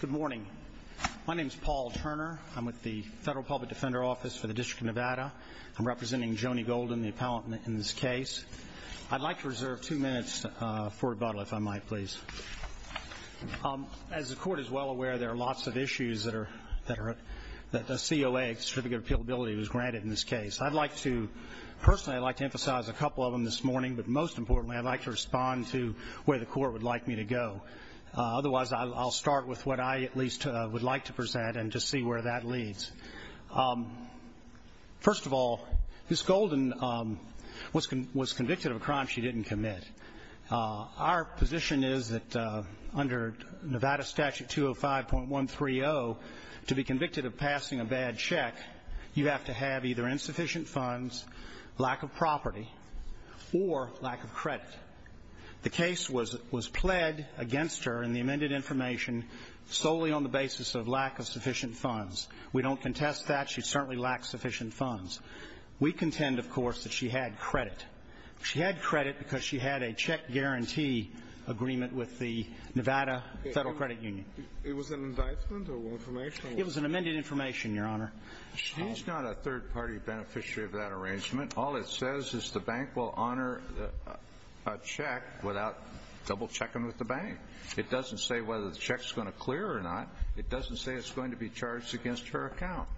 Good morning. My name is Paul Turner. I'm with the Federal Public Defender Office for the District of Nevada. I'm representing Joni Golden, the appellant in this case. I'd like to reserve two minutes for rebuttal, if I might please. As the Court is well aware, there are lots of issues that a COA, Certificate of Appeal Ability, was granted in this case. I'd like to, personally, I'd like to emphasize a couple of them this morning, but most importantly, I'd like to respond to where the Court would like me to go. Otherwise, I'll start with what I, at least, would like to present and to see where that leads. First of all, Ms. Golden was convicted of a crime she didn't commit. Our position is that under Nevada Statute 205.130, to be convicted of passing a bad check, you have to have either insufficient funds, lack of property, or lack of credit. The case was pled against her in the amended information solely on the basis of lack of sufficient funds. We don't contest that. She certainly lacked sufficient funds. We contend, of course, that she had credit. She had credit because she had a check guarantee agreement with the Nevada Federal Credit Union. It was an indictment or information? It was an amended information, Your Honor. She's not a third-party beneficiary of that arrangement. All it says is the bank will honor a check without double-checking with the bank. It doesn't say whether the check's going to clear or not. It doesn't say it's going to be charged against her account.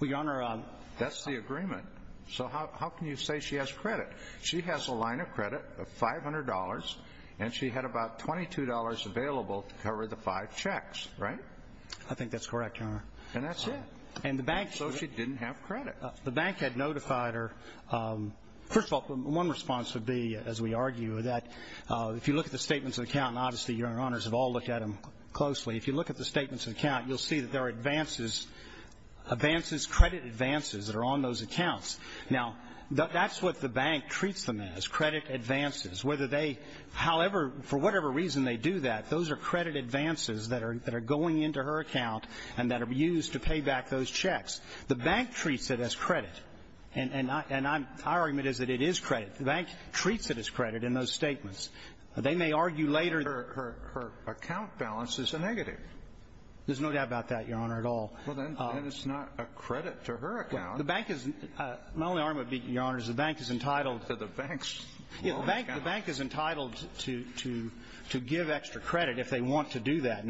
Well, Your Honor. That's the agreement. So how can you say she has credit? She has a line of credit of $500, and she had about $22 available to cover the five checks, right? I think that's correct, Your Honor. And that's it. So she didn't have credit. The bank had notified her. First of all, one response would be, as we argue, that if you look at the statements of account, and obviously Your Honors have all looked at them closely, if you look at the statements of account, you'll see that there are advances, advances, credit advances that are on those accounts. Now, that's what the bank treats them as, credit advances. Whether they, however, for whatever reason they do that, those are credit advances that are going into her account and that are used to pay back those checks. The bank treats it as credit. And I'm — our argument is that it is credit. The bank treats it as credit in those statements. They may argue later — Her account balance is a negative. There's no doubt about that, Your Honor, at all. Well, then it's not a credit to her account. The bank is — my only argument would be, Your Honor, is the bank is entitled — To the bank's loan account. The bank is entitled to give extra credit if they want to do that.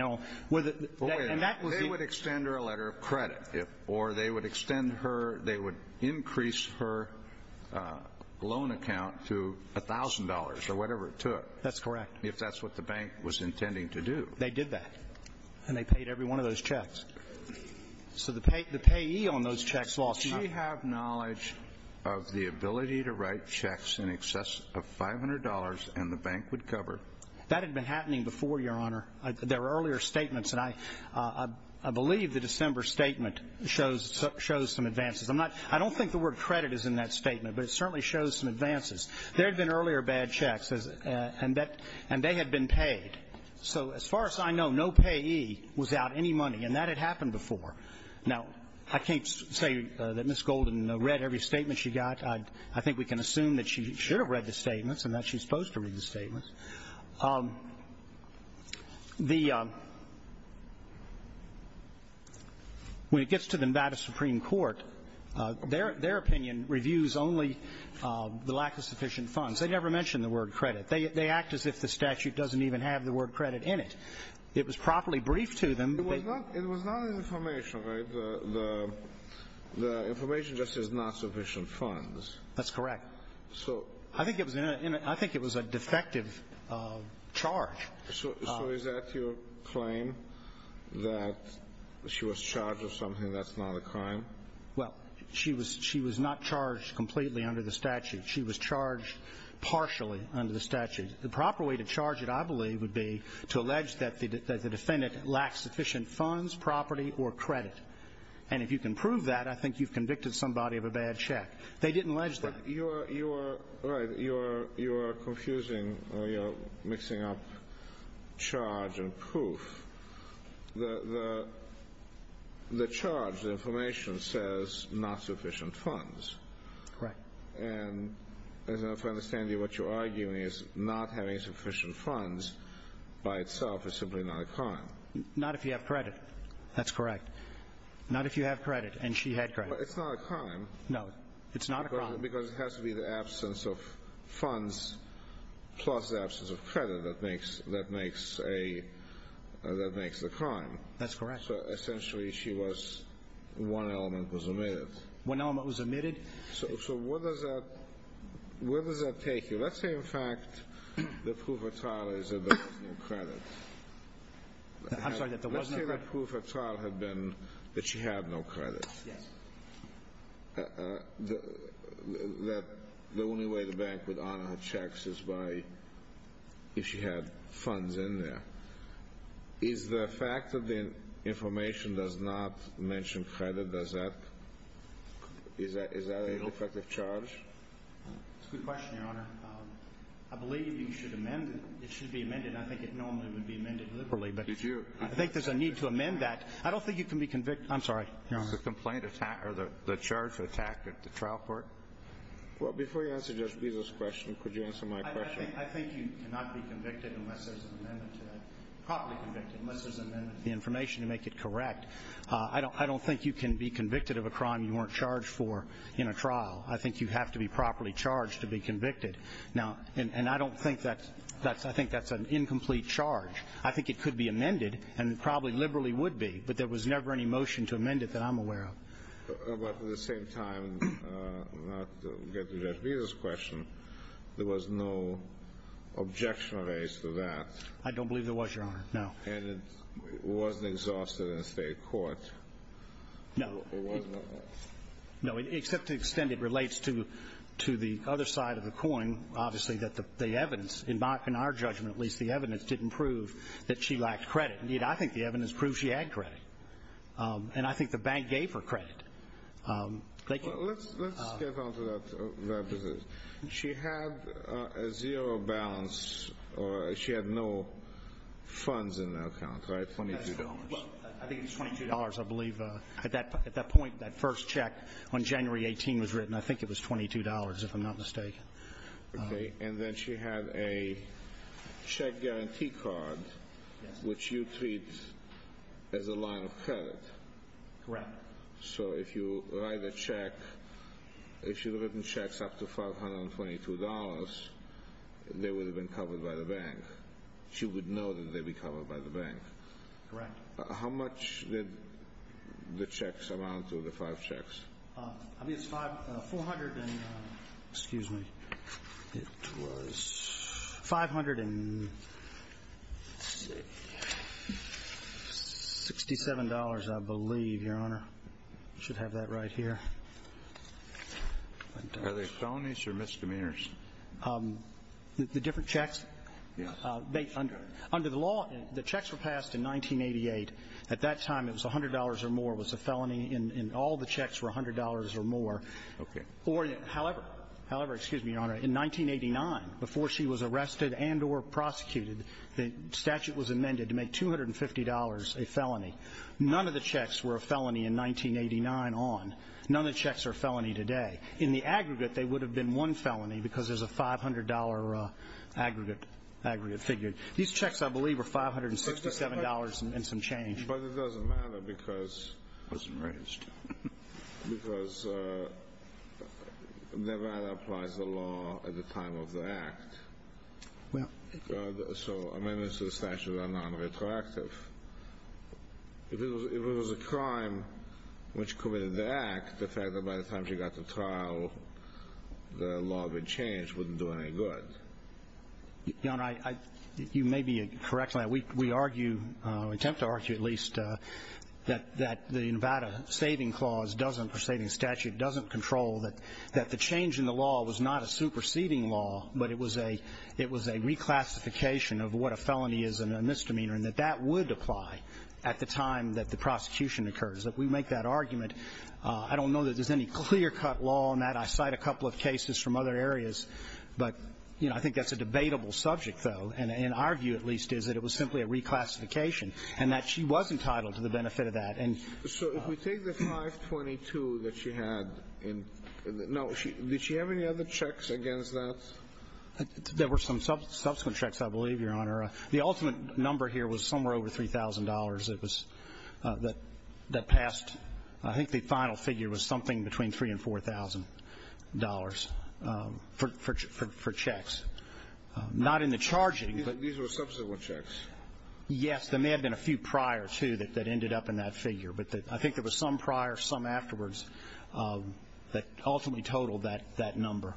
They would extend her a letter of credit. Or they would extend her — they would increase her loan account to $1,000 or whatever it took. That's correct. If that's what the bank was intending to do. They did that. And they paid every one of those checks. So the payee on those checks lost money. Do you have knowledge of the ability to write checks in excess of $500 and the bank would cover? That had been happening before, Your Honor. There were earlier statements, and I believe the December statement shows some advances. I'm not — I don't think the word credit is in that statement, but it certainly shows some advances. There had been earlier bad checks, and that — and they had been paid. So as far as I know, no payee was out any money, and that had happened before. Now, I can't say that Ms. Golden read every statement she got. I think we can assume that she should have read the statements and that she's supposed to read the statements. The — when it gets to the Nevada Supreme Court, their opinion reviews only the lack of sufficient funds. They never mention the word credit. They act as if the statute doesn't even have the word credit in it. It was properly briefed to them. It was not information, right? The information just says not sufficient funds. That's correct. So — I think it was a defective charge. So is that your claim, that she was charged with something that's not a crime? Well, she was not charged completely under the statute. She was charged partially under the statute. And the proper way to charge it, I believe, would be to allege that the defendant lacks sufficient funds, property, or credit. And if you can prove that, I think you've convicted somebody of a bad check. They didn't allege that. But you are — right, you are confusing or you are mixing up charge and proof. The charge, the information, says not sufficient funds. Right. And as I understand it, what you're arguing is not having sufficient funds by itself is simply not a crime. Not if you have credit. That's correct. Not if you have credit and she had credit. But it's not a crime. No. It's not a crime. Because it has to be the absence of funds plus the absence of credit that makes a — that makes a crime. That's correct. So essentially she was — one element was omitted. One element was omitted? So where does that take you? Let's say, in fact, the proof of trial is that there was no credit. I'm sorry, that there was no credit? Let's say the proof of trial had been that she had no credit. Yes. The only way the bank would honor her checks is by if she had funds in there. Is the fact that the information does not mention credit, does that — is that a defective charge? It's a good question, Your Honor. I believe you should amend it. It should be amended. I think it normally would be amended liberally. Did you — I think there's a need to amend that. I don't think you can be convicted — I'm sorry, Your Honor. Is the complaint attacked or the charge attacked at the trial court? Well, before you answer Judge Bezos' question, could you answer my question? I think you cannot be convicted unless there's an amendment to that. Properly convicted unless there's an amendment to the information to make it correct. I don't think you can be convicted of a crime you weren't charged for in a trial. I think you have to be properly charged to be convicted. And I don't think that's — I think that's an incomplete charge. I think it could be amended and probably liberally would be, but there was never any motion to amend it that I'm aware of. But at the same time, not to get to Judge Bezos' question, there was no objection raised to that. I don't believe there was, Your Honor, no. And it wasn't exhausted in a state court? No. It wasn't? No, except to the extent it relates to the other side of the coin, obviously, that the evidence — in our judgment, at least, the evidence didn't prove that she lacked credit. Indeed, I think the evidence proves she had credit. And I think the bank gave her credit. Let's just get on to that position. She had a zero balance, or she had no funds in her account, right, $22? I think it was $22, I believe. At that point, that first check on January 18 was written. I think it was $22, if I'm not mistaken. Okay. And then she had a check guarantee card, which you treat as a line of credit. Correct. So if you write a check, if she had written checks up to $522, they would have been covered by the bank. She would know that they'd be covered by the bank. Correct. How much did the checks amount to, the five checks? I mean, it's $400 and — excuse me, it was $567, I believe, Your Honor. I should have that right here. Are they felonies or misdemeanors? The different checks? Yes. Under the law, the checks were passed in 1988. At that time, it was $100 or more. It was a felony, and all the checks were $100 or more. Okay. However, however, excuse me, Your Honor, in 1989, before she was arrested and or prosecuted, the statute was amended to make $250 a felony. None of the checks were a felony in 1989 on. None of the checks are a felony today. In the aggregate, they would have been one felony because there's a $500 aggregate figure. These checks, I believe, were $567 and some change. But it doesn't matter because — I was enraged. Because Nevada applies the law at the time of the act. Well — So amendments to the statute are nonretroactive. If it was a crime which committed the act, the fact that by the time she got to trial, the law would change wouldn't do her any good. Your Honor, you may be correct on that. We argue, or attempt to argue at least, that the Nevada saving clause doesn't, or saving statute, doesn't control that the change in the law was not a superseding law, but it was a reclassification of what a felony is and a misdemeanor, and that that would apply at the time that the prosecution occurs. If we make that argument, I don't know that there's any clear-cut law on that. I cite a couple of cases from other areas. But, you know, I think that's a debatable subject, though. And our view, at least, is that it was simply a reclassification and that she was entitled to the benefit of that. And — So if we take the 522 that she had in — no, did she have any other checks against that? There were some subsequent checks, I believe, Your Honor. The ultimate number here was somewhere over $3,000. It was — that passed — I think the final figure was something between $3,000 and $4,000. For checks. Not in the charging, but — These were subsequent checks. Yes. There may have been a few prior, too, that ended up in that figure. But I think there was some prior, some afterwards, that ultimately totaled that number.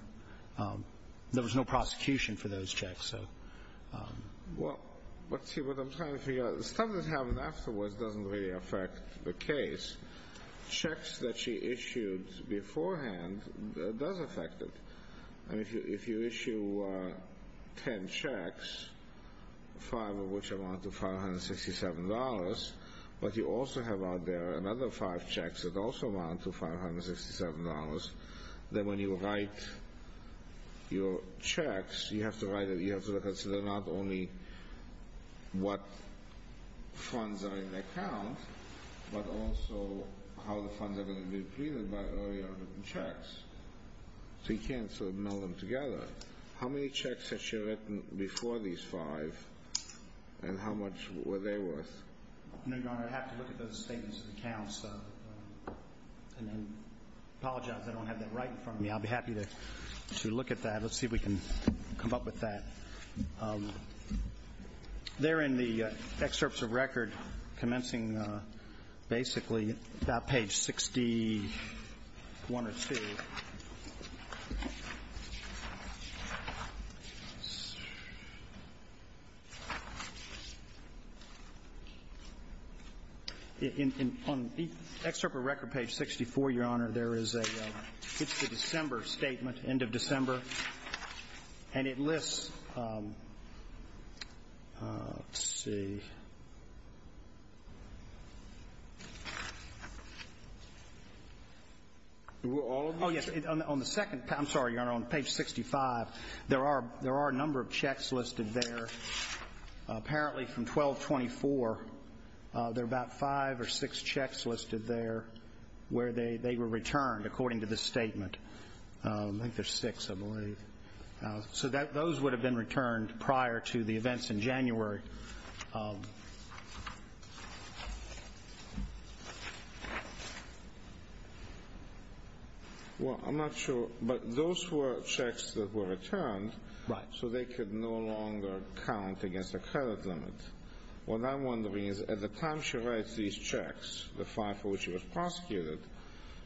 There was no prosecution for those checks. So — Well, let's see what I'm trying to figure out. The stuff that happened afterwards doesn't really affect the case. Checks that she issued beforehand does affect it. I mean, if you issue 10 checks, five of which amount to $567, but you also have out there another five checks that also amount to $567, then when you write your checks, you have to write — you have to consider not only what funds are in the account, but also how the funds are going to be treated by the checks. So you can't sort of meld them together. How many checks has she written before these five, and how much were they worth? No, Your Honor, I'd have to look at those statements of accounts and then apologize. I don't have that right in front of me. I'll be happy to look at that. Let's see if we can come up with that. There in the excerpts of record commencing basically about page 61 or 2. On excerpt of record page 64, Your Honor, there is a — it's the December statement, end of December. And it lists — let's see. Were all of them? Oh, yes. On the second — I'm sorry, Your Honor, on page 65, there are a number of checks listed there. Apparently from 1224, there are about five or six checks listed there where they were returned, according to this statement. I think there's six, I believe. So those would have been returned prior to the events in January. Well, I'm not sure. But those were checks that were returned. Right. So they could no longer count against the credit limit. What I'm wondering is at the time she writes these checks, the five for which she was prosecuted,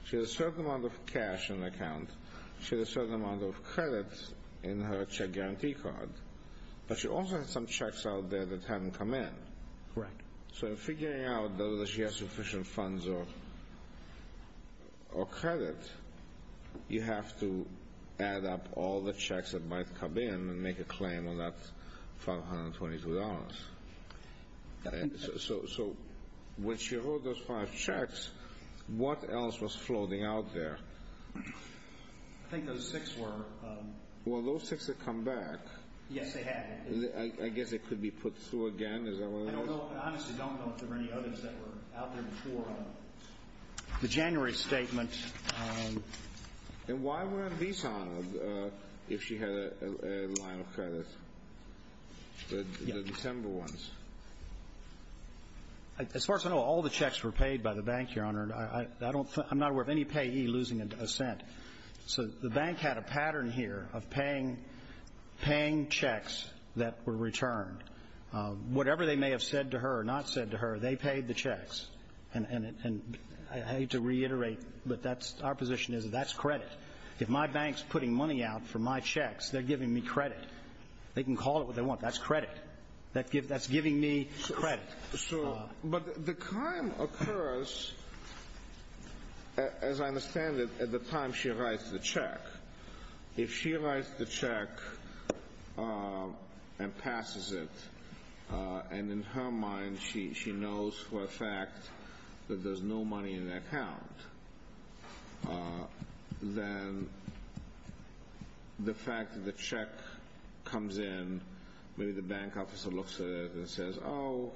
she had a certain amount of cash in her account. She had a certain amount of credit in her check guarantee card. But she also had some checks out there that hadn't come in. Right. So in figuring out whether she has sufficient funds or credit, you have to add up all the checks that might come in and make a claim on that $522. So when she wrote those five checks, what else was floating out there? I think those six were — Well, those six had come back. Yes, they had. I guess they could be put through again. Is that what it is? I honestly don't know if there were any others that were out there before. The January statement — And why weren't these honored if she had a line of credit? The December ones. As far as I know, all the checks were paid by the bank, Your Honor. I'm not aware of any payee losing a cent. So the bank had a pattern here of paying checks that were returned. Whatever they may have said to her or not said to her, they paid the checks. And I hate to reiterate, but that's — our position is that that's credit. If my bank's putting money out for my checks, they're giving me credit. They can call it what they want. That's credit. That's giving me credit. But the crime occurs, as I understand it, at the time she writes the check. If she writes the check and passes it, and in her mind she knows for a fact that there's no money in the account, then the fact that the check comes in, maybe the bank officer looks at it and says, Oh,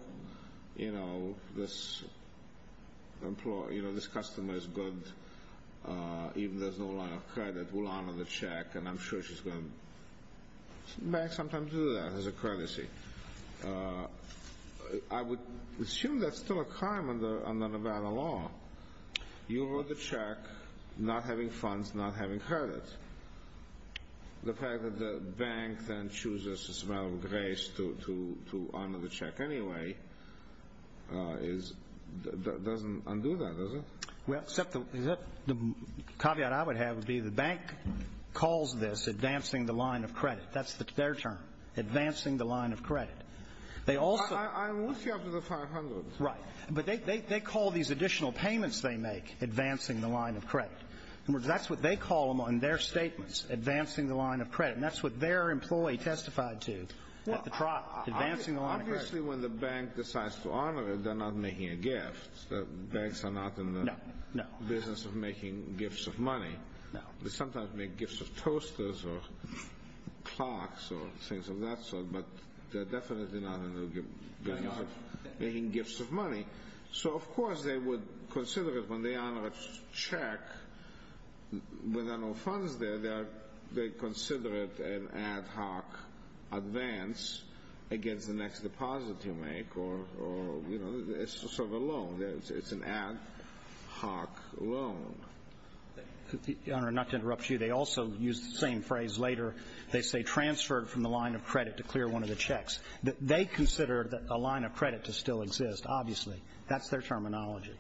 you know, this customer is good. Even though there's no line of credit, we'll honor the check. And I'm sure she's going to sometimes do that as a courtesy. I would assume that's still a crime under Nevada law. You wrote the check not having funds, not having credit. The fact that the bank then chooses this amount of grace to honor the check anyway doesn't undo that, does it? Well, except the caveat I would have would be the bank calls this advancing the line of credit. That's their term, advancing the line of credit. I'm with you up to the 500. Right. But they call these additional payments they make advancing the line of credit. In other words, that's what they call them on their statements, advancing the line of credit. And that's what their employee testified to at the trial, advancing the line of credit. Obviously, when the bank decides to honor it, they're not making a gift. Banks are not in the business of making gifts of money. They sometimes make gifts of toasters or clocks or things of that sort, but they're definitely not in the business of making gifts of money. So, of course, they would consider it when they honor a check when there are no funds there, they consider it an ad hoc advance against the next deposit you make or, you know, it's sort of a loan. It's an ad hoc loan. Your Honor, not to interrupt you, they also use the same phrase later. They say transferred from the line of credit to clear one of the checks. They consider a line of credit to still exist, obviously. That's their terminology.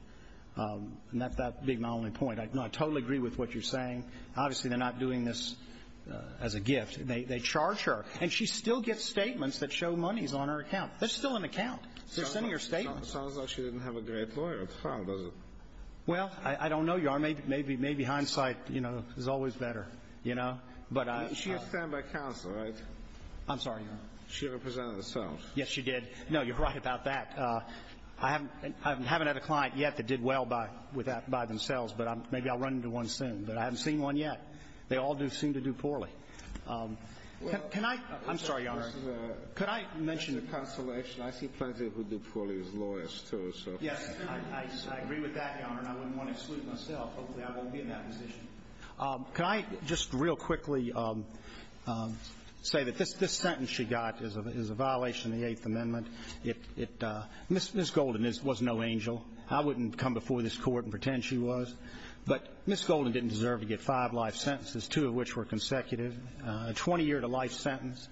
And that being my only point, I totally agree with what you're saying. Obviously, they're not doing this as a gift. They charge her. And she still gets statements that show monies on her account. That's still an account. They're sending her statements. It sounds like she didn't have a great lawyer at trial, does it? Well, I don't know, Your Honor. Maybe hindsight, you know, is always better. You know? But I – She was sent by counsel, right? I'm sorry, Your Honor. She represented herself. Yes, she did. No, you're right about that. I haven't had a client yet that did well by themselves, but maybe I'll run into one soon. But I haven't seen one yet. They all do seem to do poorly. Can I – I'm sorry, Your Honor. Could I mention a counselor? I see plenty who do poorly as lawyers, too, so. Yes, I agree with that, Your Honor, and I wouldn't want to exclude myself. Hopefully, I won't be in that position. Can I just real quickly say that this sentence she got is a violation of the Eighth Amendment. It – Ms. Golden was no angel. I wouldn't come before this Court and pretend she was. But Ms. Golden didn't deserve to get five life sentences, two of which were consecutive, a 20-year-to-life sentence.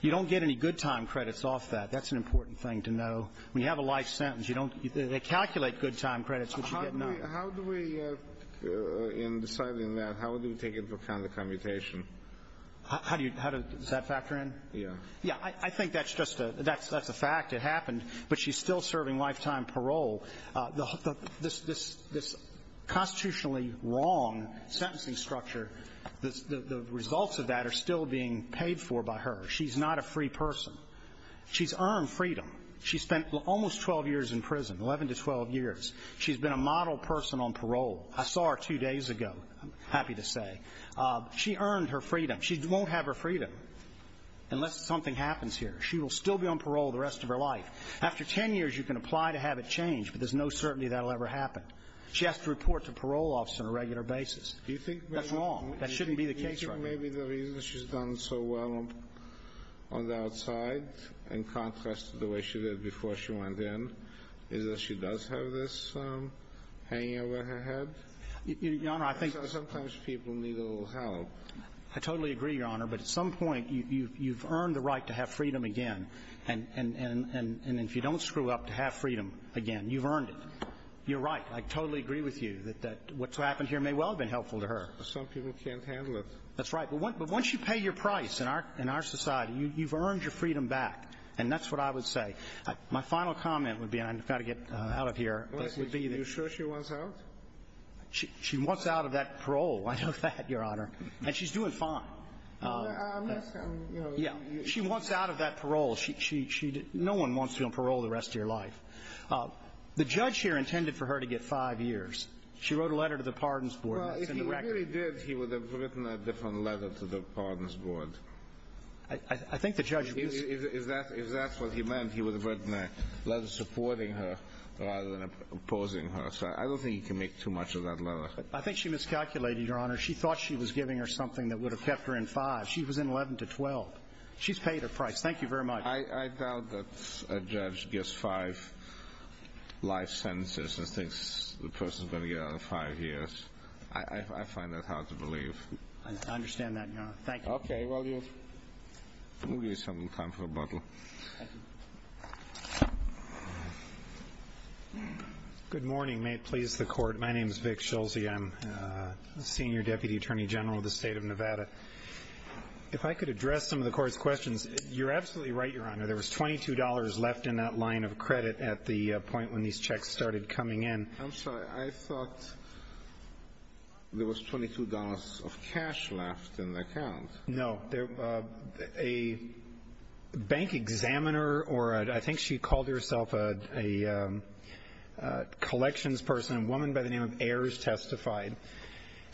You don't get any good-time credits off that. That's an important thing to know. When you have a life sentence, you don't – they calculate good-time credits, but you get none. How do we – in deciding that, how do we take into account the commutation? How do you – does that factor in? Yeah. Yeah. I think that's just a – that's a fact. It happened. But she's still serving lifetime parole. This constitutionally wrong sentencing structure, the results of that are still being paid for by her. She's not a free person. She's earned freedom. She spent almost 12 years in prison, 11 to 12 years. She's been a model person on parole. I saw her two days ago, I'm happy to say. She earned her freedom. She won't have her freedom unless something happens here. She will still be on parole the rest of her life. After 10 years, you can apply to have it changed, but there's no certainty that'll ever happen. She has to report to parole officers on a regular basis. That's wrong. That shouldn't be the case right now. Do you think maybe the reason she's done so well on the outside in contrast to the way she did before she went in is that she does have this hanging over her head? Your Honor, I think – Sometimes people need a little help. I totally agree, Your Honor, but at some point you've earned the right to have freedom again. And if you don't screw up to have freedom again, you've earned it. You're right. I totally agree with you that what's happened here may well have been helpful to her. But some people can't handle it. That's right. But once you pay your price in our society, you've earned your freedom back. And that's what I would say. My final comment would be – and I've got to get out of here. Are you sure she wants out? She wants out of that parole. I know that, Your Honor. And she's doing fine. Yes. Yeah. She wants out of that parole. She – no one wants you on parole the rest of your life. The judge here intended for her to get five years. She wrote a letter to the Pardons Board. Well, if he really did, he would have written a different letter to the Pardons Board. I think the judge – If that's what he meant, he would have written a letter supporting her rather than opposing her. So I don't think he can make too much of that letter. I think she miscalculated, Your Honor. She thought she was giving her something that would have kept her in five. She was in 11 to 12. She's paid her price. Thank you very much. I doubt that a judge gets five life sentences and thinks the person's going to get out of five years. I find that hard to believe. I understand that, Your Honor. Thank you. Okay. I'm going to give you some time for rebuttal. Thank you. Good morning. May it please the Court. My name is Vic Schulze. I'm the Senior Deputy Attorney General of the State of Nevada. If I could address some of the Court's questions. You're absolutely right, Your Honor. There was $22 left in that line of credit at the point when these checks started coming in. I'm sorry. I thought there was $22 of cash left in the account. No. A bank examiner, or I think she called herself a collections person, a woman by the name of Ayers, testified.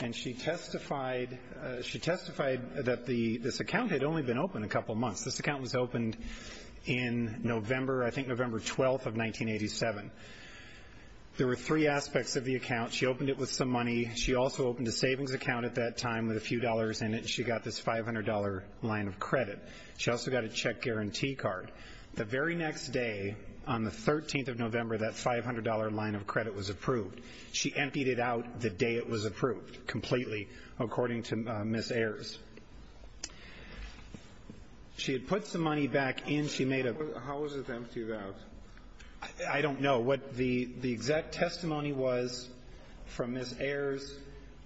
And she testified that this account had only been open a couple months. This account was opened in November, I think November 12th of 1987. There were three aspects of the account. She opened it with some money. She also opened a savings account at that time with a few dollars in it. And she got this $500 line of credit. She also got a check guarantee card. The very next day, on the 13th of November, that $500 line of credit was approved. She emptied it out the day it was approved completely, according to Ms. Ayers. She had put some money back in. How was it emptied out? I don't know. What the exact testimony was from Ms. Ayers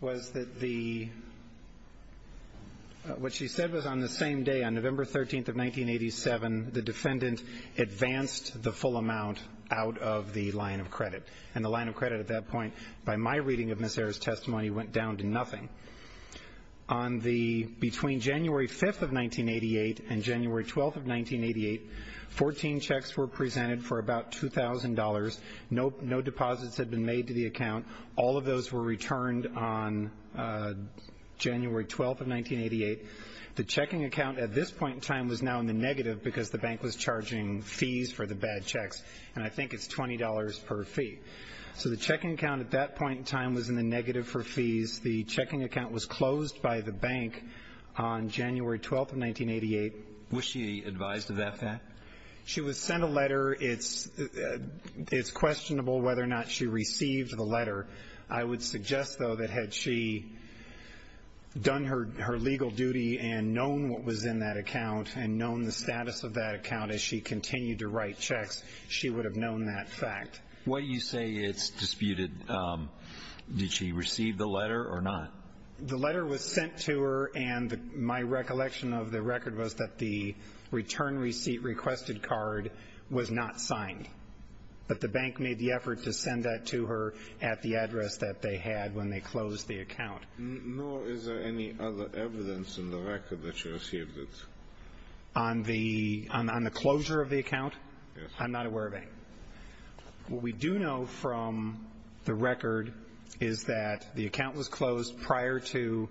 was that the ‑‑ what she said was on the same day, on November 13th of 1987, the defendant advanced the full amount out of the line of credit. And the line of credit at that point, by my reading of Ms. Ayers' testimony, went down to nothing. Between January 5th of 1988 and January 12th of 1988, 14 checks were presented for about $2,000. No deposits had been made to the account. All of those were returned on January 12th of 1988. The checking account at this point in time was now in the negative because the bank was charging fees for the bad checks. And I think it's $20 per fee. So the checking account at that point in time was in the negative for fees. The checking account was closed by the bank on January 12th of 1988. Was she advised of that fact? She was sent a letter. It's questionable whether or not she received the letter. I would suggest, though, that had she done her legal duty and known what was in that account and known the status of that account as she continued to write checks, she would have known that fact. What you say is disputed. Did she receive the letter or not? The letter was sent to her, and my recollection of the record was that the return receipt requested card was not signed. But the bank made the effort to send that to her at the address that they had when they closed the account. Nor is there any other evidence in the record that she received it. On the closure of the account? Yes. I'm not aware of any. What we do know from the record is that the account was closed prior to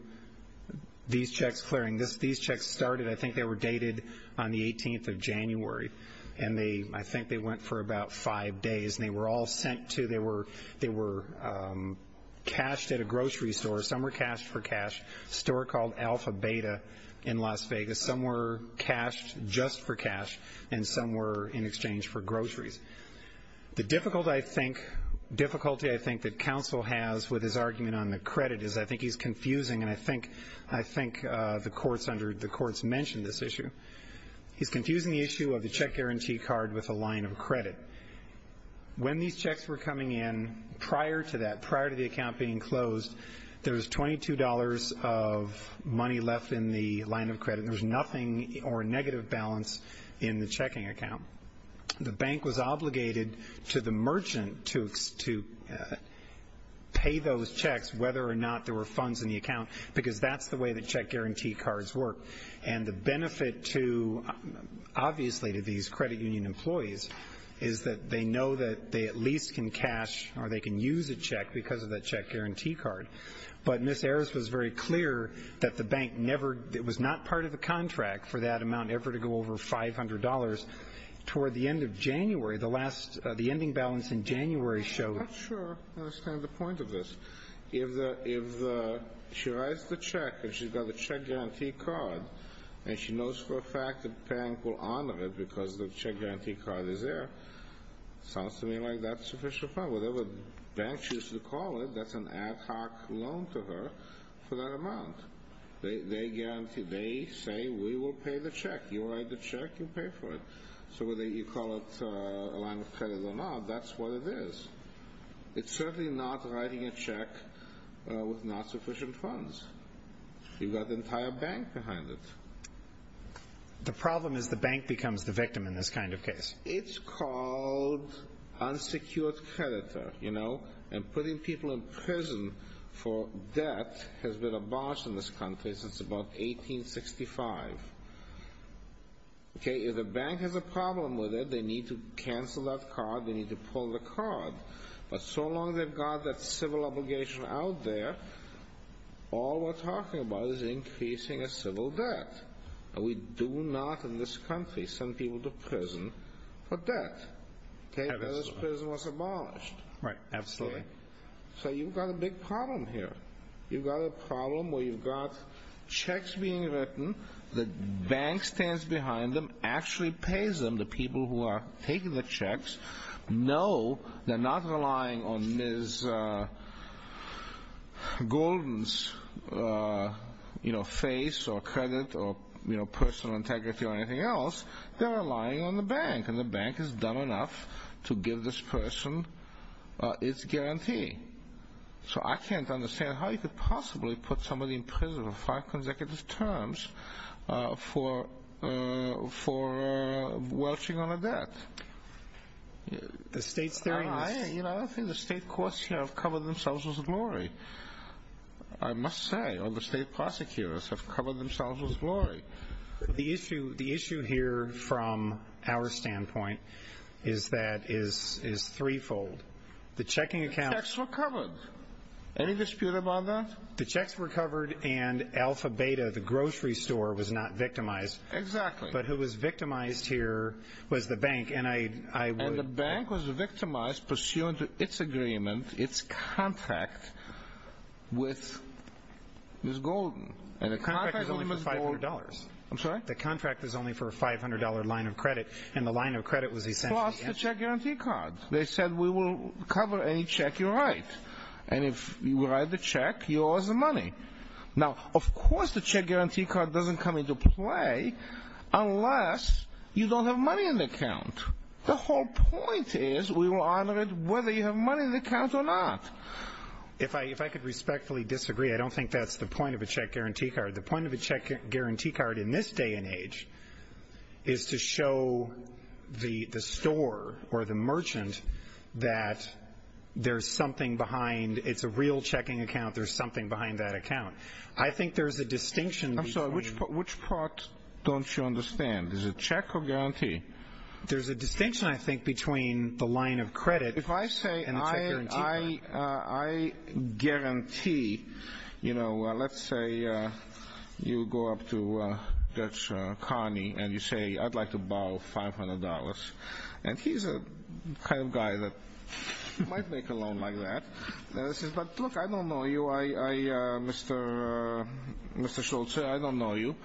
these checks clearing. These checks started, I think they were dated, on the 18th of January, and I think they went for about five days. They were all sent to, they were cashed at a grocery store. Some were cashed for cash, a store called Alpha Beta in Las Vegas. Some were cashed just for cash, and some were in exchange for groceries. The difficulty I think that counsel has with his argument on the credit is I think he's confusing, and I think the courts mentioned this issue. He's confusing the issue of the check guarantee card with a line of credit. When these checks were coming in, prior to that, prior to the account being closed, there was $22 of money left in the line of credit, and there was nothing or a negative balance in the checking account. The bank was obligated to the merchant to pay those checks whether or not there were funds in the account because that's the way the check guarantee cards work. And the benefit, obviously, to these credit union employees is that they know that they at least can cash because of that check guarantee card. But Ms. Harris was very clear that the bank never, it was not part of the contract for that amount ever to go over $500. Toward the end of January, the last, the ending balance in January showed. I'm not sure I understand the point of this. If she writes the check and she's got the check guarantee card, and she knows for a fact that the bank will honor it because the check guarantee card is there, it sounds to me like that's sufficient funds. Whatever the bank chooses to call it, that's an ad hoc loan to her for that amount. They guarantee, they say, we will pay the check. You write the check, you pay for it. So whether you call it a line of credit or not, that's what it is. It's certainly not writing a check with not sufficient funds. You've got the entire bank behind it. The problem is the bank becomes the victim in this kind of case. It's called unsecured creditor. And putting people in prison for debt has been abolished in this country since about 1865. If the bank has a problem with it, they need to cancel that card. They need to pull the card. But so long they've got that civil obligation out there, all we're talking about is increasing a civil debt. We do not in this country send people to prison for debt. This prison was abolished. Absolutely. So you've got a big problem here. You've got a problem where you've got checks being written, the bank stands behind them, actually pays them, the people who are taking the checks, know they're not relying on Ms. Golden's face or credit or personal integrity or anything else. They're relying on the bank, and the bank has done enough to give this person its guarantee. So I can't understand how you could possibly put somebody in prison on five consecutive terms for welching on a debt. I don't think the state courts here have covered themselves with glory. I must say, all the state prosecutors have covered themselves with glory. The issue here from our standpoint is that it's threefold. The checks were covered. Any dispute about that? The checks were covered and Alpha Beta, the grocery store, was not victimized. Exactly. But who was victimized here was the bank, and I would And the bank was victimized pursuant to its agreement, its contract, with Ms. Golden. And the contract was only for $500. I'm sorry? The contract was only for a $500 line of credit, and the line of credit was essentially Plus the check guarantee card. They said we will cover any check you write, and if you write the check, you owe us the money. Now, of course the check guarantee card doesn't come into play unless you don't have money in the account. The whole point is we will honor it whether you have money in the account or not. If I could respectfully disagree, I don't think that's the point of a check guarantee card. The point of a check guarantee card in this day and age is to show the store or the merchant that there's something behind. It's a real checking account. There's something behind that account. I think there's a distinction between I'm sorry, which part don't you understand? Is it check or guarantee? There's a distinction, I think, between the line of credit and the check guarantee card. I guarantee, you know, let's say you go up to Dutch Carney and you say, I'd like to borrow $500. And he's the kind of guy that might make a loan like that. He says, but look, I don't know you, Mr. Schultz. I don't know you.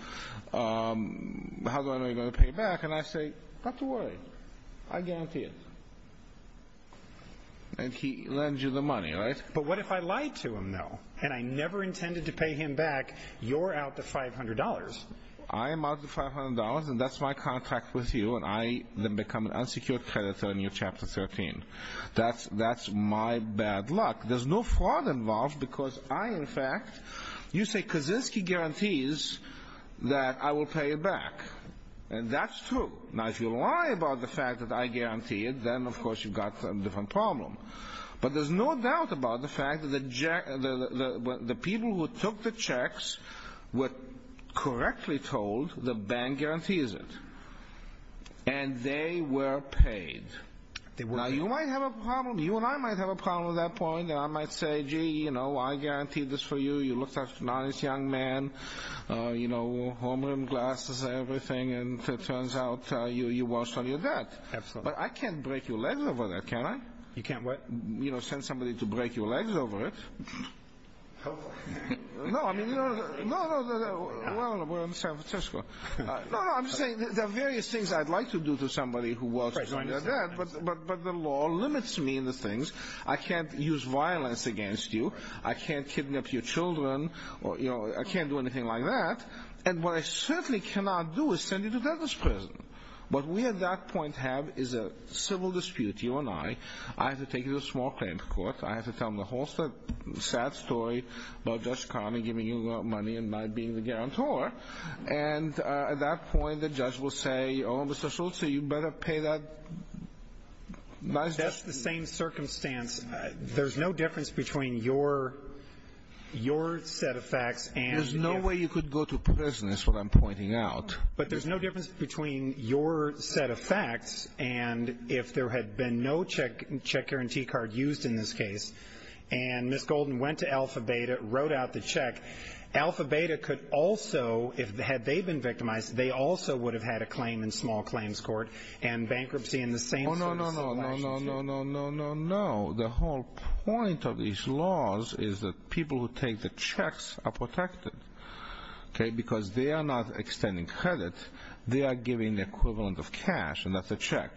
How am I going to pay you back? And I say, not to worry. I guarantee it. And he lends you the money, right? But what if I lied to him, though, and I never intended to pay him back? You're out the $500. I am out the $500, and that's my contract with you, and I then become an unsecured creditor in your Chapter 13. That's my bad luck. There's no fraud involved because I, in fact, you say Kaczynski guarantees that I will pay it back. And that's true. Now, if you lie about the fact that I guarantee it, then, of course, you've got a different problem. But there's no doubt about the fact that the people who took the checks were correctly told the bank guarantees it. And they were paid. Now, you might have a problem. You and I might have a problem at that point, and I might say, gee, you know, I guarantee this for you. You looked like a nice young man, you know, home-rimmed glasses and everything, and it turns out you waltzed on your dad. Absolutely. But I can't break your legs over that, can I? You can't what? You know, send somebody to break your legs over it. Hopefully. No, I mean, you know, no, no, no, no. Well, we're in San Francisco. No, no, I'm just saying there are various things I'd like to do to somebody who waltzes on their dad, but the law limits me in the things. I can't use violence against you. I can't kidnap your children. You know, I can't do anything like that. And what I certainly cannot do is send you to death sentence prison. What we at that point have is a civil dispute, you and I. I have to take you to a small claim court. I have to tell them the whole sad story about Judge Connolly giving you money and my being the guarantor. And at that point, the judge will say, oh, Mr. Schultz, you better pay that. That's the same circumstance. There's no difference between your set of facts and your. There's no way you could go to prison is what I'm pointing out. But there's no difference between your set of facts and if there had been no check guarantee card used in this case, and Ms. Golden went to Alpha Beta, wrote out the check, Alpha Beta could also, had they been victimized, they also would have had a claim in small claims court and bankruptcy in the same. Oh, no, no, no, no, no, no, no, no, no, no. The whole point of these laws is that people who take the checks are protected. Okay, because they are not extending credit. They are giving the equivalent of cash, and that's a check.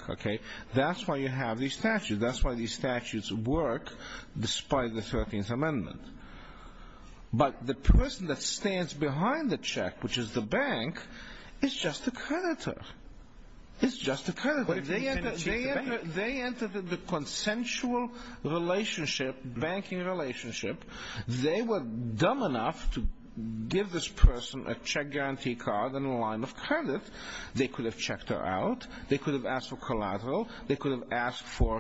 That's why you have these statutes. That's why these statutes work despite the 13th Amendment. But the person that stands behind the check, which is the bank, is just a creditor. It's just a creditor. They entered the consensual relationship, banking relationship. They were dumb enough to give this person a check guarantee card in the line of credit. They could have checked her out. They could have asked for collateral. They could have asked for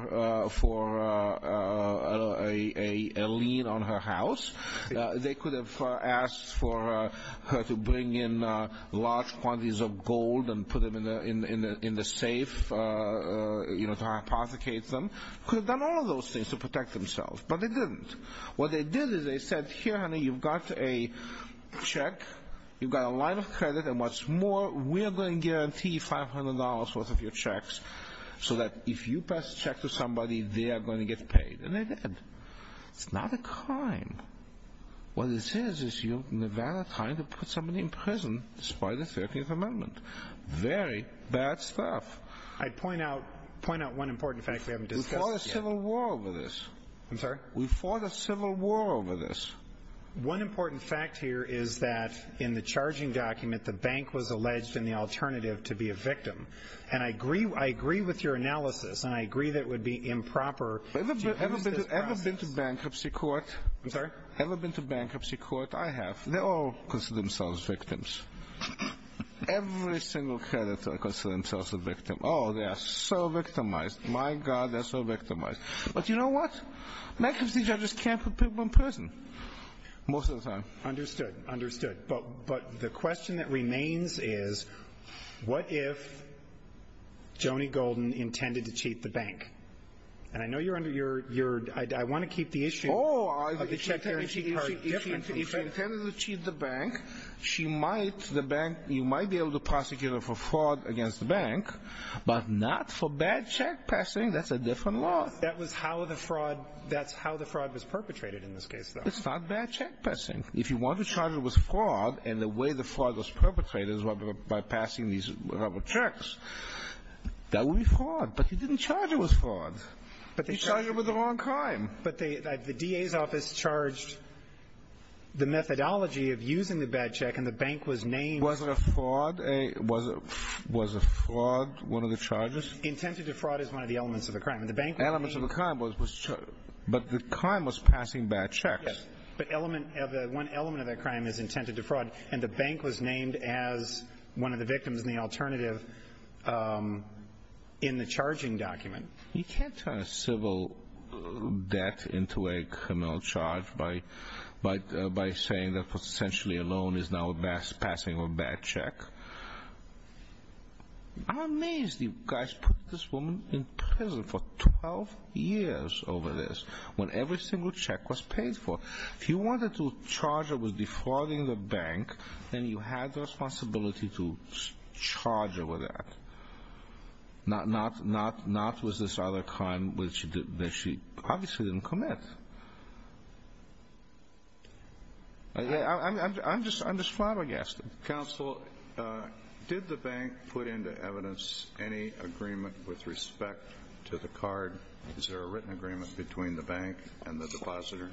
a lien on her house. They could have asked for her to bring in large quantities of gold and put them in the safe to hypothecate them. They could have done all of those things to protect themselves, but they didn't. What they did is they said, here, honey, you've got a check. You've got a line of credit, and what's more, we're going to guarantee $500 worth of your checks so that if you pass a check to somebody, they are going to get paid, and they did. It's not a crime. What it is, is you're nevada-tying to put somebody in prison despite the 13th Amendment. Very bad stuff. I'd point out one important fact we haven't discussed yet. We fought a civil war over this. I'm sorry? We fought a civil war over this. One important fact here is that in the charging document, the bank was alleged in the alternative to be a victim. Ever been to bankruptcy court? I'm sorry? Ever been to bankruptcy court? I have. They all consider themselves victims. Every single creditor considers themselves a victim. Oh, they are so victimized. My God, they're so victimized. But you know what? Bankruptcy judges can't put people in prison most of the time. Understood. Understood. But the question that remains is, what if Joni Golden intended to cheat the bank? And I know you're under your ---- I want to keep the issue of the check guarantee part different. If she intended to cheat the bank, she might, the bank, you might be able to prosecute her for fraud against the bank, but not for bad check passing. That's a different law. That was how the fraud, that's how the fraud was perpetrated in this case, though. It's not bad check passing. If you want to charge her with fraud and the way the fraud was perpetrated is by passing these checks, that would be fraud. But you didn't charge her with fraud. You charged her with the wrong crime. But the DA's office charged the methodology of using the bad check and the bank was named ---- Was it a fraud? Was a fraud one of the charges? Intended to fraud is one of the elements of the crime. And the bank was named ---- Elements of the crime was ---- but the crime was passing bad checks. But one element of that crime is intended to fraud and the bank was named as one of the victims in the alternative in the charging document. You can't turn a civil debt into a criminal charge by saying that essentially a loan is now passing a bad check. I'm amazed you guys put this woman in prison for 12 years over this when every single check was paid for. If you wanted to charge her with defrauding the bank, then you had the responsibility to charge her with that, not with this other crime that she obviously didn't commit. I'm just flabbergasted. Counsel, did the bank put into evidence any agreement with respect to the card? Is there a written agreement between the bank and the depositor?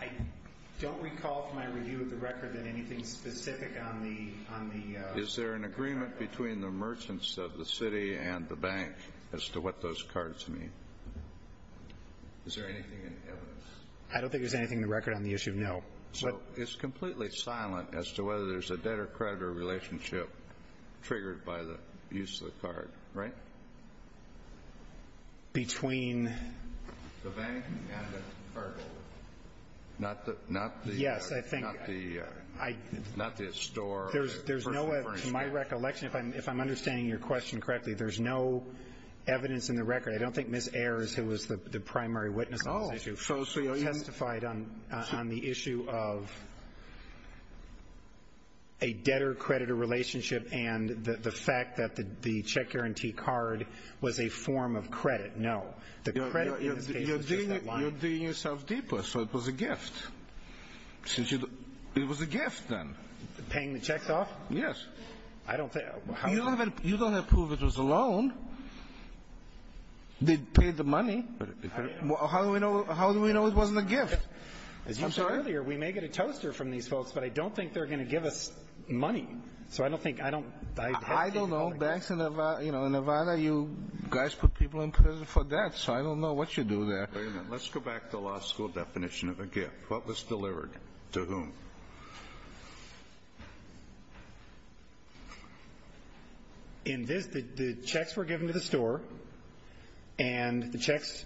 I don't recall from my review of the record that anything specific on the ---- Is there an agreement between the merchants of the city and the bank as to what those cards mean? Is there anything in evidence? I don't think there's anything in the record on the issue, no. So it's completely silent as to whether there's a debtor-creditor relationship triggered by the use of the card, right? Between ---- The bank and the card holder. Not the store or the person referring to it. To my recollection, if I'm understanding your question correctly, there's no evidence in the record. I don't think Ms. Ayers, who was the primary witness on this issue, testified on the issue of a debtor-creditor relationship and the fact that the check guarantee card was a form of credit. No. The credit in this case is just a line. You're digging yourself deeper. So it was a gift. It was a gift, then. Paying the checks off? Yes. I don't think ---- You don't have proof it was a loan. They paid the money. How do we know it wasn't a gift? I'm sorry? As you said earlier, we may get a toaster from these folks, but I don't think they're going to give us money. So I don't think ---- I don't know. Banks in Nevada, you know, in Nevada, you guys put people in prison for debt. So I don't know what you do there. Wait a minute. Let's go back to the law school definition of a gift. What was delivered? To whom? In this, the checks were given to the store, and the checks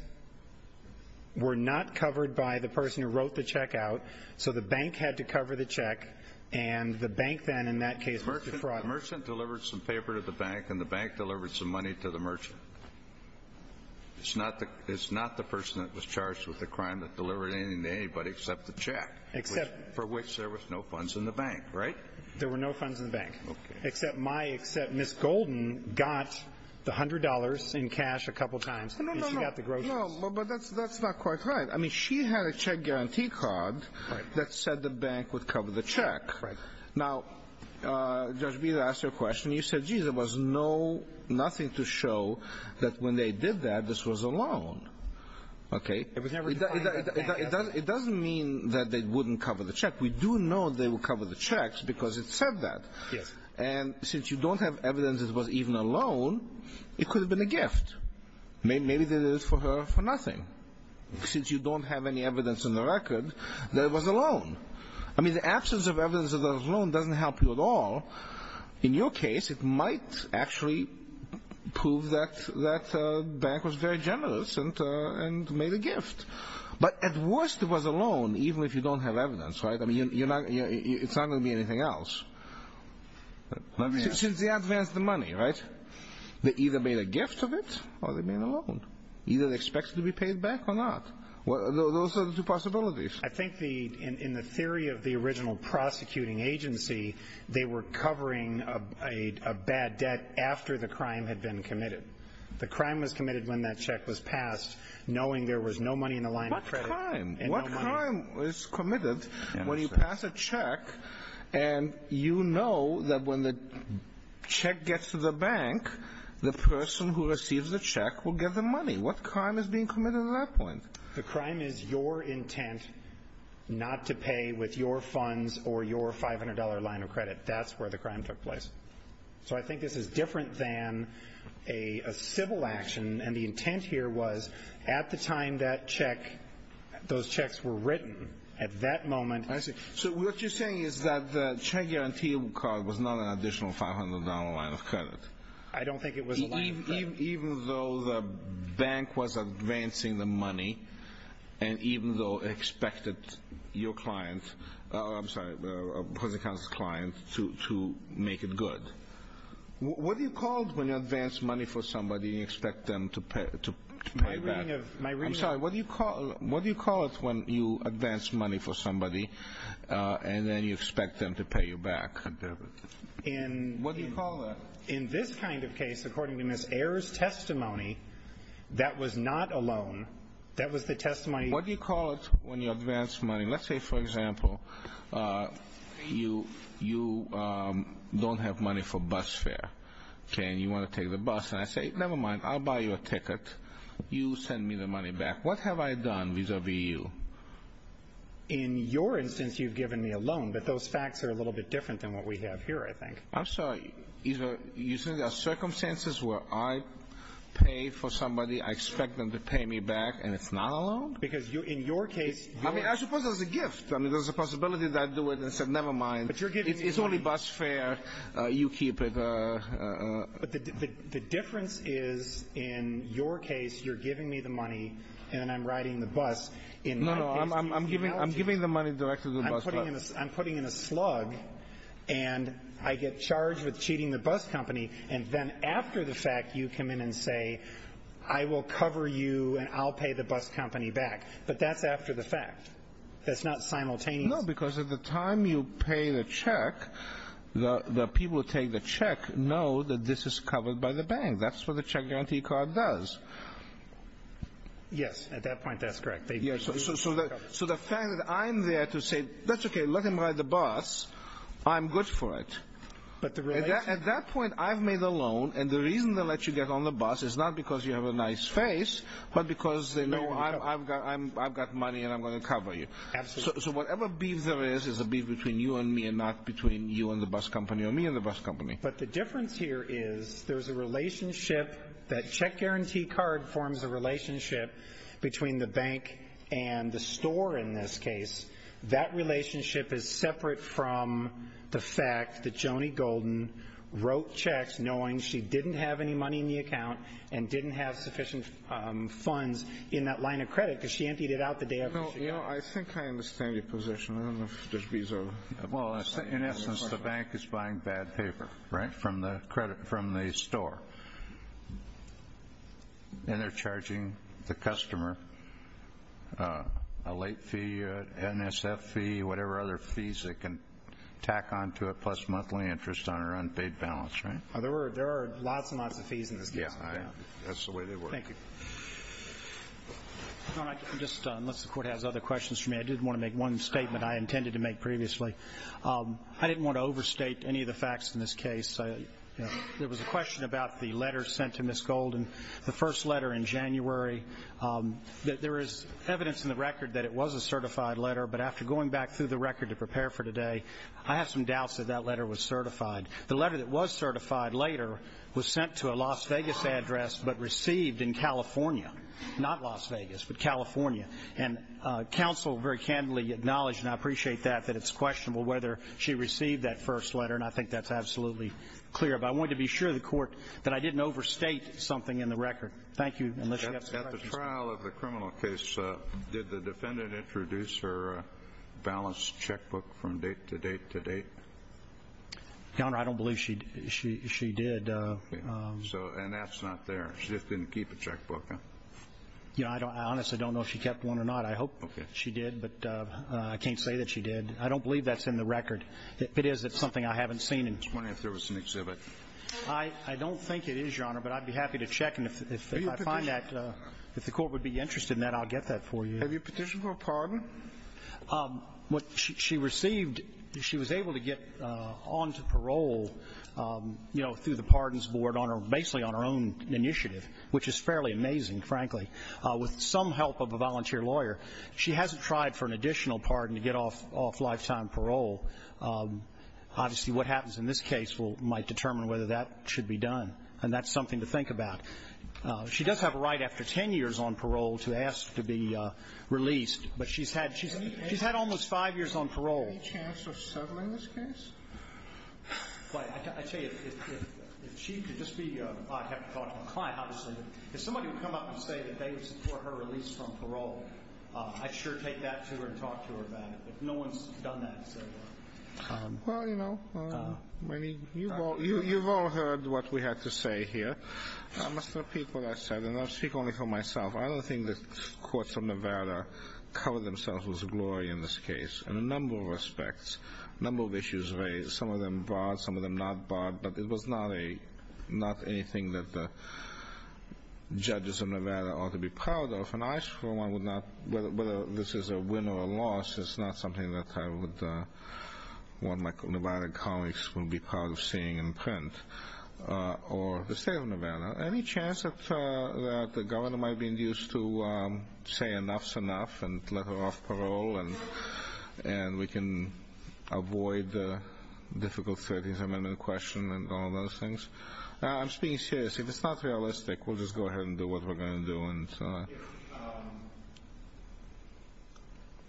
were not covered by the person who wrote the check out. So the bank had to cover the check, and the bank then in that case ---- The merchant delivered some paper to the bank, and the bank delivered some money to the merchant. It's not the person that was charged with the crime that delivered anything to anybody except the check. Except ---- For which there was no funds in the bank, right? There were no funds in the bank. Okay. Except my, except Ms. Golden got the $100 in cash a couple times. No, no, no, no. And she got the groceries. No, but that's not quite right. I mean, she had a check guarantee card that said the bank would cover the check. Right. Now, Judge Beaz, I asked you a question. You said, geez, there was no, nothing to show that when they did that, this was a loan. Okay? It was never defined by the bank. It doesn't mean that they wouldn't cover the check. We do know they would cover the checks because it said that. Yes. And since you don't have evidence it was even a loan, it could have been a gift. Maybe they did it for her for nothing. Since you don't have any evidence in the record that it was a loan. I mean, the absence of evidence that it was a loan doesn't help you at all. In your case, it might actually prove that that bank was very generous and made a gift. But at worst it was a loan even if you don't have evidence. Right? I mean, it's not going to be anything else. Let me ask. Since they advanced the money, right, they either made a gift of it or they made a loan. Either they expected to be paid back or not. Those are the two possibilities. I think in the theory of the original prosecuting agency, they were covering a bad debt after the crime had been committed. The crime was committed when that check was passed knowing there was no money in the line of credit. What crime? What crime is committed when you pass a check and you know that when the check gets to the bank, the person who receives the check will get the money? What crime is being committed at that point? The crime is your intent not to pay with your funds or your $500 line of credit. That's where the crime took place. So I think this is different than a civil action. And the intent here was at the time that check, those checks were written, at that moment. So what you're saying is that the check guarantee card was not an additional $500 line of credit. I don't think it was a line of credit. Even though the bank was advancing the money and even though it expected your client, I'm sorry, opposing counsel's client, to make it good, what do you call it when you advance money for somebody and you expect them to pay back? I'm sorry, what do you call it when you advance money for somebody and then you expect them to pay you back? What do you call that? In this kind of case, according to Ms. Ayer's testimony, that was not a loan. That was the testimony. What do you call it when you advance money? Let's say, for example, you don't have money for bus fare and you want to take the bus. And I say, never mind, I'll buy you a ticket. You send me the money back. What have I done vis-a-vis you? In your instance, you've given me a loan. But those facts are a little bit different than what we have here, I think. I'm sorry. You're saying there are circumstances where I pay for somebody, I expect them to pay me back, and it's not a loan? Because in your case, you're – I mean, I suppose there's a gift. I mean, there's a possibility that I do it and say, never mind, it's only bus fare, you keep it. But the difference is, in your case, you're giving me the money and I'm riding the bus. No, no, I'm giving the money directly to the bus driver. I'm putting in a slug and I get charged with cheating the bus company. And then after the fact, you come in and say, I will cover you and I'll pay the bus company back. But that's after the fact. That's not simultaneous. No, because at the time you pay the check, the people who take the check know that this is covered by the bank. That's what the check guarantee card does. Yes, at that point, that's correct. So the fact that I'm there to say, that's okay, let him ride the bus, I'm good for it. At that point, I've made the loan, and the reason they let you get on the bus is not because you have a nice face, but because they know I've got money and I'm going to cover you. So whatever beef there is is a beef between you and me and not between you and the bus company or me and the bus company. But the difference here is there's a relationship. That check guarantee card forms a relationship between the bank and the store in this case. That relationship is separate from the fact that Joni Golden wrote checks knowing she didn't have any money in the account and didn't have sufficient funds in that line of credit because she emptied it out the day after she got it. You know, I think I understand your position. I don't know if there's reason. Well, in essence, the bank is buying bad paper, right, from the store, and they're charging the customer a late fee, an NSF fee, whatever other fees they can tack onto it plus monthly interest on an unpaid balance, right? There are lots and lots of fees in this case. Yeah, that's the way they work. Thank you. Just unless the Court has other questions for me, I did want to make one statement I intended to make previously. I didn't want to overstate any of the facts in this case. There was a question about the letter sent to Ms. Golden, the first letter in January. There is evidence in the record that it was a certified letter, but after going back through the record to prepare for today, I have some doubts that that letter was certified. The letter that was certified later was sent to a Las Vegas address but received in California, not Las Vegas, but California. And counsel very candidly acknowledged, and I appreciate that, that it's questionable whether she received that first letter, and I think that's absolutely clear. But I wanted to be sure of the Court that I didn't overstate something in the record. Thank you. At the trial of the criminal case, did the defendant introduce her balance checkbook from date to date to date? Your Honor, I don't believe she did. And that's not there? She just didn't keep a checkbook? I honestly don't know if she kept one or not. I hope she did, but I can't say that she did. I don't believe that's in the record. If it is, it's something I haven't seen. Explain if there was an exhibit. I don't think it is, Your Honor, but I'd be happy to check. And if I find that, if the Court would be interested in that, I'll get that for you. Have you petitioned for a pardon? What she received, she was able to get on to parole, you know, through the Pardons Board, basically on her own initiative, which is fairly amazing, frankly, with some help of a volunteer lawyer. She hasn't tried for an additional pardon to get off lifetime parole. Obviously what happens in this case might determine whether that should be done, and that's something to think about. She does have a right after 10 years on parole to ask to be released, but she's had almost five years on parole. Any chance of settling this case? I tell you, if she could just be, I'd have to talk to the client, obviously. If somebody would come up and say that they would support her release from parole, I'd sure take that to her and talk to her about it. No one's done that so far. Well, you know, you've all heard what we had to say here. I must repeat what I said, and I'll speak only for myself. I don't think the courts of Nevada cover themselves with glory in this case in a number of respects, a number of issues raised, some of them barred, some of them not barred, but it was not anything that the judges of Nevada ought to be proud of. And I, for one, would not, whether this is a win or a loss, it's not something that I would want my Nevada colleagues to be proud of seeing in print. Or the state of Nevada. Any chance that the governor might be induced to say enough's enough and let her off parole and we can avoid the difficult 13th Amendment question and all those things? I'm just being serious. If it's not realistic, we'll just go ahead and do what we're going to do. I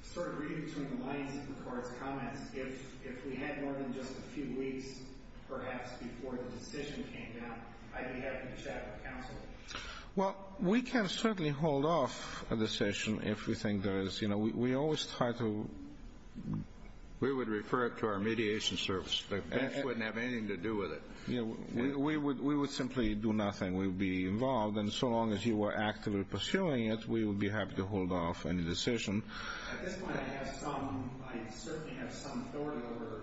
started reading between the lines of the court's comments. If we had more than just a few weeks, perhaps, before the decision came down, I'd be happy to chat with counsel. Well, we can certainly hold off a decision if we think there is. You know, we always try to... We would refer it to our mediation service. The bench wouldn't have anything to do with it. We would simply do nothing. We would be involved. And so long as you were actively pursuing it, we would be happy to hold off any decision. At this point, I certainly have some authority over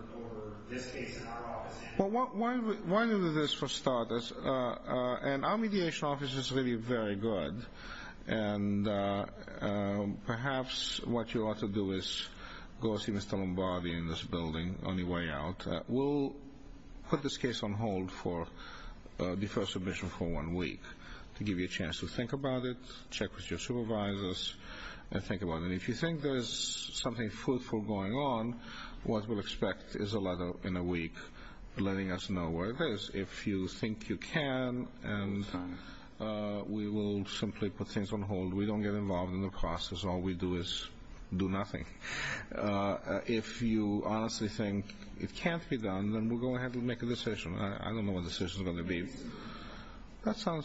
this case in our office. Well, why don't we do this for starters? And our mediation office is really very good. And perhaps what you ought to do is go see Mr. Lombardi in this building on your way out. We'll put this case on hold for deferred submission for one week to give you a chance to think about it, check with your supervisors, and think about it. And if you think there is something fruitful going on, what we'll expect is a letter in a week letting us know where it is. If you think you can, we will simply put things on hold. We don't get involved in the process. All we do is do nothing. If you honestly think it can't be done, then we'll go ahead and make a decision. I don't know what the decision is going to be. That's what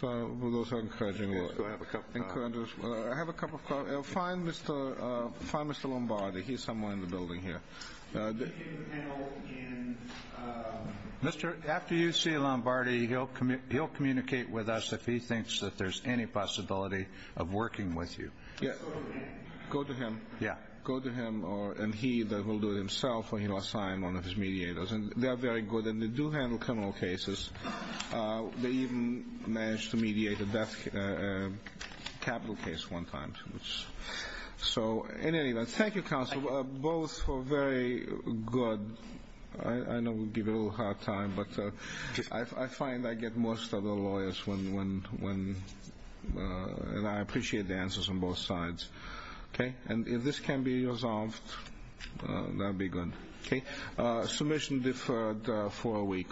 those are encouraging. I have a couple of questions. Find Mr. Lombardi. He's somewhere in the building here. After you see Lombardi, he'll communicate with us if he thinks that there's any possibility of working with you. Go to him. Go to him, and he will do it himself, or he will assign one of his mediators. They are very good, and they do handle criminal cases. They even managed to mediate a death capital case one time. Thank you, counsel, both were very good. I know we're giving a little hard time, but I find I get most of the lawyers when, and I appreciate the answers on both sides. If this can be resolved, that would be good. Submission deferred for a week.